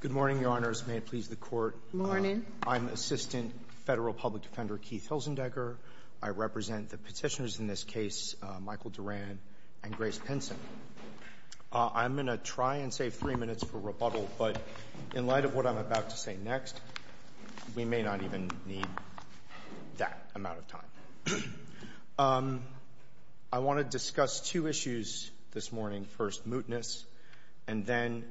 Good morning, Your Honors. May it please the Court. Morning. I'm Assistant Federal Public Defender Keith Hilsendecker. I represent the petitioners in this case, Michael Duran and Grace Pinson. I'm going to try and save three minutes for rebuttal, but in light of what I'm about to say next, we may not even need that amount of time. I want to discuss two issues this morning. First, mootness, and then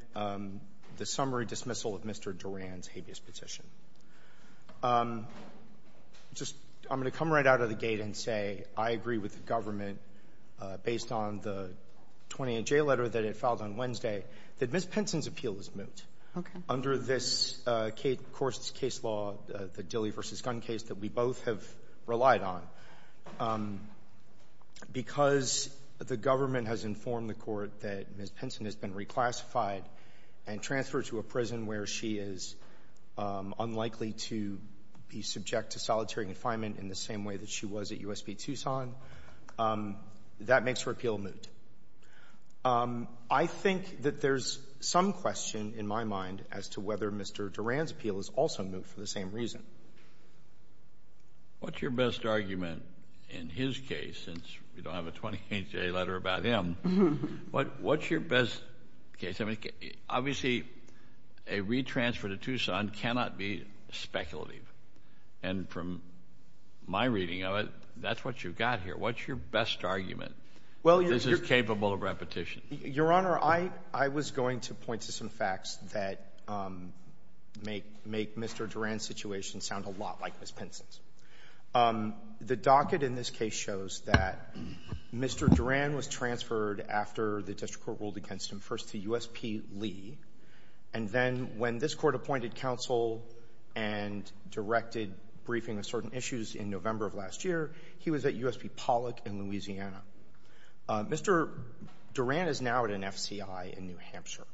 the summary dismissal of Mr. Duran's habeas petition. I'm going to come right out of the gate and say I agree with the government, based on the 28-J letter that it filed on Wednesday, that Ms. Pinson's appeal is moot. Under this case law, the Dilley v. Gunn case that we both have relied on, because the government has informed the Court that Ms. Pinson has been reclassified and transferred to a prison where she is unlikely to be subject to solitary confinement in the same way that she was at U.S. v. Tucson, that makes her appeal moot. I think that there's some question in my mind as to whether Mr. Duran's appeal is also moot for the same reason. What's your best argument in his case, since we don't have a 28-J letter about him, what's your best case? Obviously, a re-transfer to Tucson cannot be speculative, and from my reading of it, that's what you've got here. What's your best argument that this is capable of repetition? Your Honor, I was going to point to some facts that make Mr. Duran's situation sound a lot like Ms. Pinson's. The docket in this case shows that Mr. Duran was transferred after the district court ruled against him first to U.S.P. Lee, and then when this Court appointed counsel and directed briefing on certain issues in November of last year, he was at U.S.P. Pollock in Louisiana. Mr. Duran is now at an FCI in New Hampshire,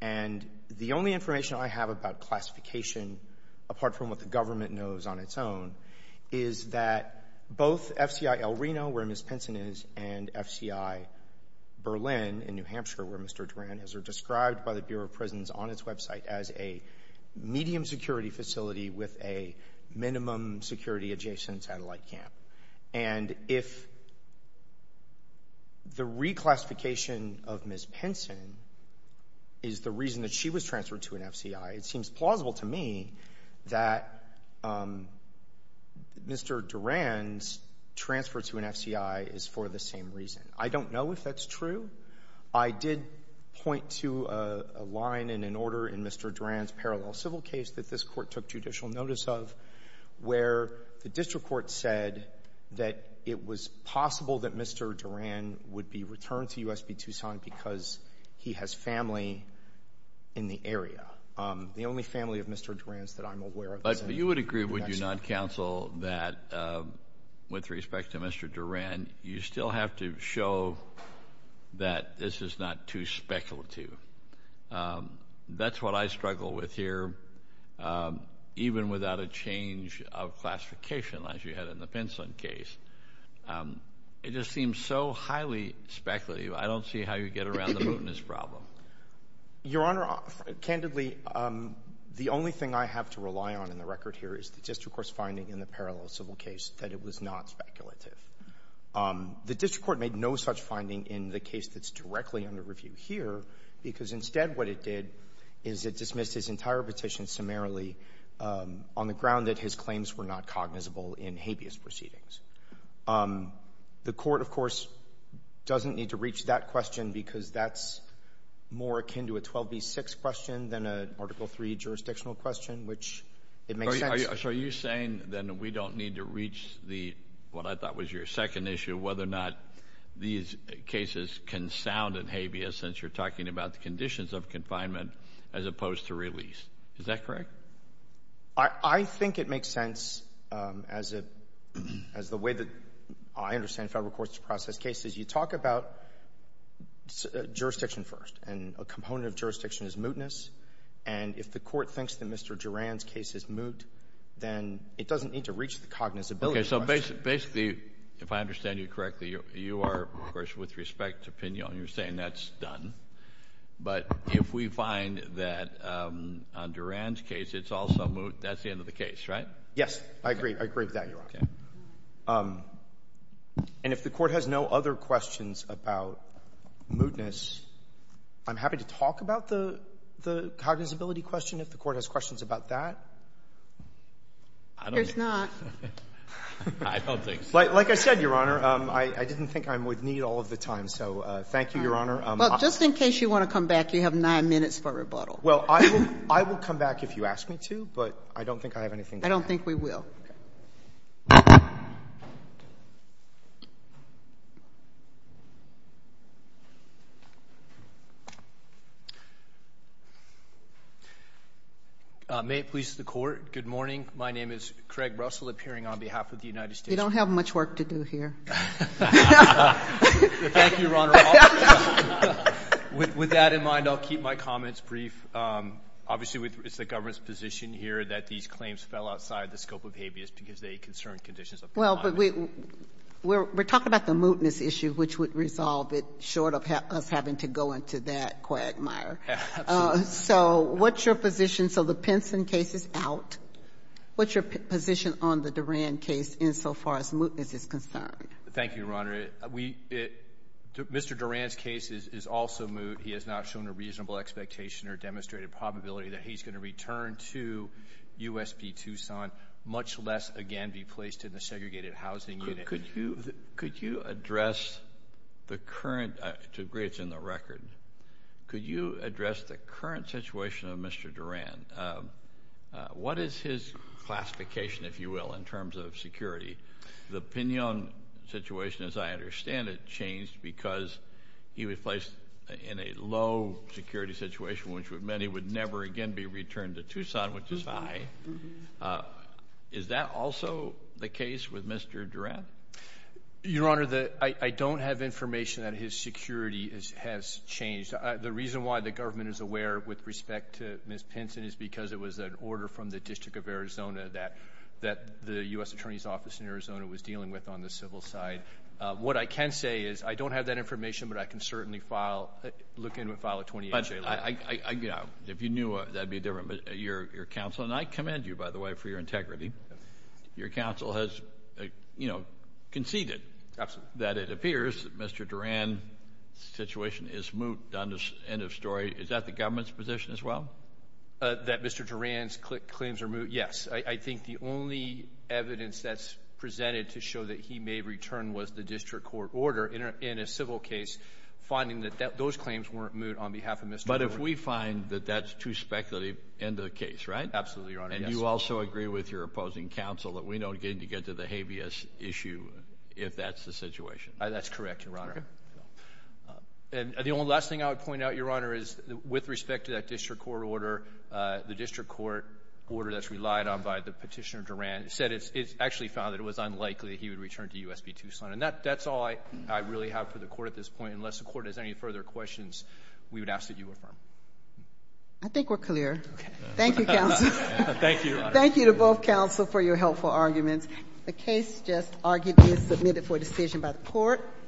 and the only information I have about classification, apart from what the government knows on its own, is that both FCI El Reno, where Ms. Pinson is, and FCI Berlin in New Hampshire, where Mr. Duran is, are described by the Bureau of Prisons on its website as a medium security facility with a minimum security adjacent satellite camp. And if the reclassification of Ms. Pinson is the reason that she was transferred to an FCI, it seems plausible to me that Mr. Duran's transfer to an FCI is for the same reason. I don't know if that's true. I did point to a line in an order in Mr. Duran's parallel civil case that this Court took judicial notice of, where the district court said that it was possible that Mr. Duran would be returned to U.S.P. Tucson because he has family in the area. The only family of Mr. Duran's that I'm aware of is in New Mexico. But you would agree, would you not, Counsel, that, with respect to Mr. Duran, you still have to show that this is not too speculative. That's what I struggle with here, even without a change of classification, as you had in the Pinson case. It just seems so highly speculative. I don't see how you get around the motinous problem. Your Honor, candidly, the only thing I have to rely on in the record here is the district court's finding in the parallel civil case that it was not speculative. The district court made no such finding in the case that's directly under review here because instead what it did is it dismissed his entire petition summarily on the ground that his claims were not cognizable in habeas proceedings. The court, of course, doesn't need to reach that question because that's more akin to a 12B6 question than an Article III jurisdictional question, which it makes sense. So are you saying then that we don't need to reach what I thought was your second issue, whether or not these cases can sound in habeas since you're talking about the conditions of confinement as opposed to release? Is that correct? I think it makes sense as the way that I understand federal courts to process cases. You talk about jurisdiction first, and a component of jurisdiction is mootness, and if the court thinks that Mr. Duran's case is moot, then it doesn't need to reach the cognizability question. Okay. So basically, if I understand you correctly, you are, of course, with respect to Pinon, and you're saying that's done, but if we find that on Duran's case it's also moot, that's the end of the case, right? Yes, I agree. I agree with that, Your Honor. Okay. And if the court has no other questions about mootness, I'm happy to talk about the cognizability question if the court has questions about that. There's not. I don't think so. Like I said, Your Honor, I didn't think I'm with need all of the time, so thank you, Your Honor. Well, just in case you want to come back, you have nine minutes for rebuttal. Well, I will come back if you ask me to, but I don't think I have anything to add. I don't think we will. May it please the Court, good morning. My name is Craig Russell, appearing on behalf of the United States Court. You don't have much work to do here. Thank you, Your Honor. With that in mind, I'll keep my comments brief. Obviously, it's the government's position here that these claims fell outside the scope of habeas because they concern conditions of conduct. Well, but we're talking about the mootness issue, which would resolve it, short of us having to go into that quagmire. Absolutely. So what's your position? So the Pinson case is out. What's your position on the Duran case insofar as mootness is concerned? Thank you, Your Honor. Mr. Duran's case is also moot. He has not shown a reasonable expectation or demonstrated probability that he's going to return to U.S.P. Tucson, much less, again, be placed in the segregated housing unit. Could you address the current, to agree it's in the record, could you address the current situation of Mr. Duran? What is his classification, if you will, in terms of security? The Pinon situation, as I understand it, changed because he was placed in a low security situation, which meant he would never again be returned to Tucson, which is high. Is that also the case with Mr. Duran? Your Honor, I don't have information that his security has changed. The reason why the government is aware with respect to Ms. Pinson is because it was an order from the District of Arizona that the U.S. Attorney's Office in Arizona was dealing with on the civil side. What I can say is I don't have that information, but I can certainly file, look into it and file a 28-J letter. If you knew, that would be different. But your counsel, and I commend you, by the way, for your integrity, your counsel has conceded that it appears that Mr. Duran's situation is moot. End of story. Is that the government's position as well? That Mr. Duran's claims are moot, yes. I think the only evidence that's presented to show that he may return was the district court order in a civil case, finding that those claims weren't moot on behalf of Mr. Duran. But if we find that that's too speculative, end of the case, right? Absolutely, Your Honor. And you also agree with your opposing counsel that we don't need to get to the habeas issue if that's the situation? That's correct, Your Honor. And the only last thing I would point out, Your Honor, is with respect to that district court order, the district court order that's relied on by the petitioner, Duran, said it's actually found that it was unlikely he would return to U.S. v. Tucson. And that's all I really have for the court at this point. Unless the court has any further questions, we would ask that you affirm. I think we're clear. Okay. Thank you, counsel. Thank you, Your Honor. Thank you to both counsel for your helpful arguments. The case just argued to be submitted for decision by the court.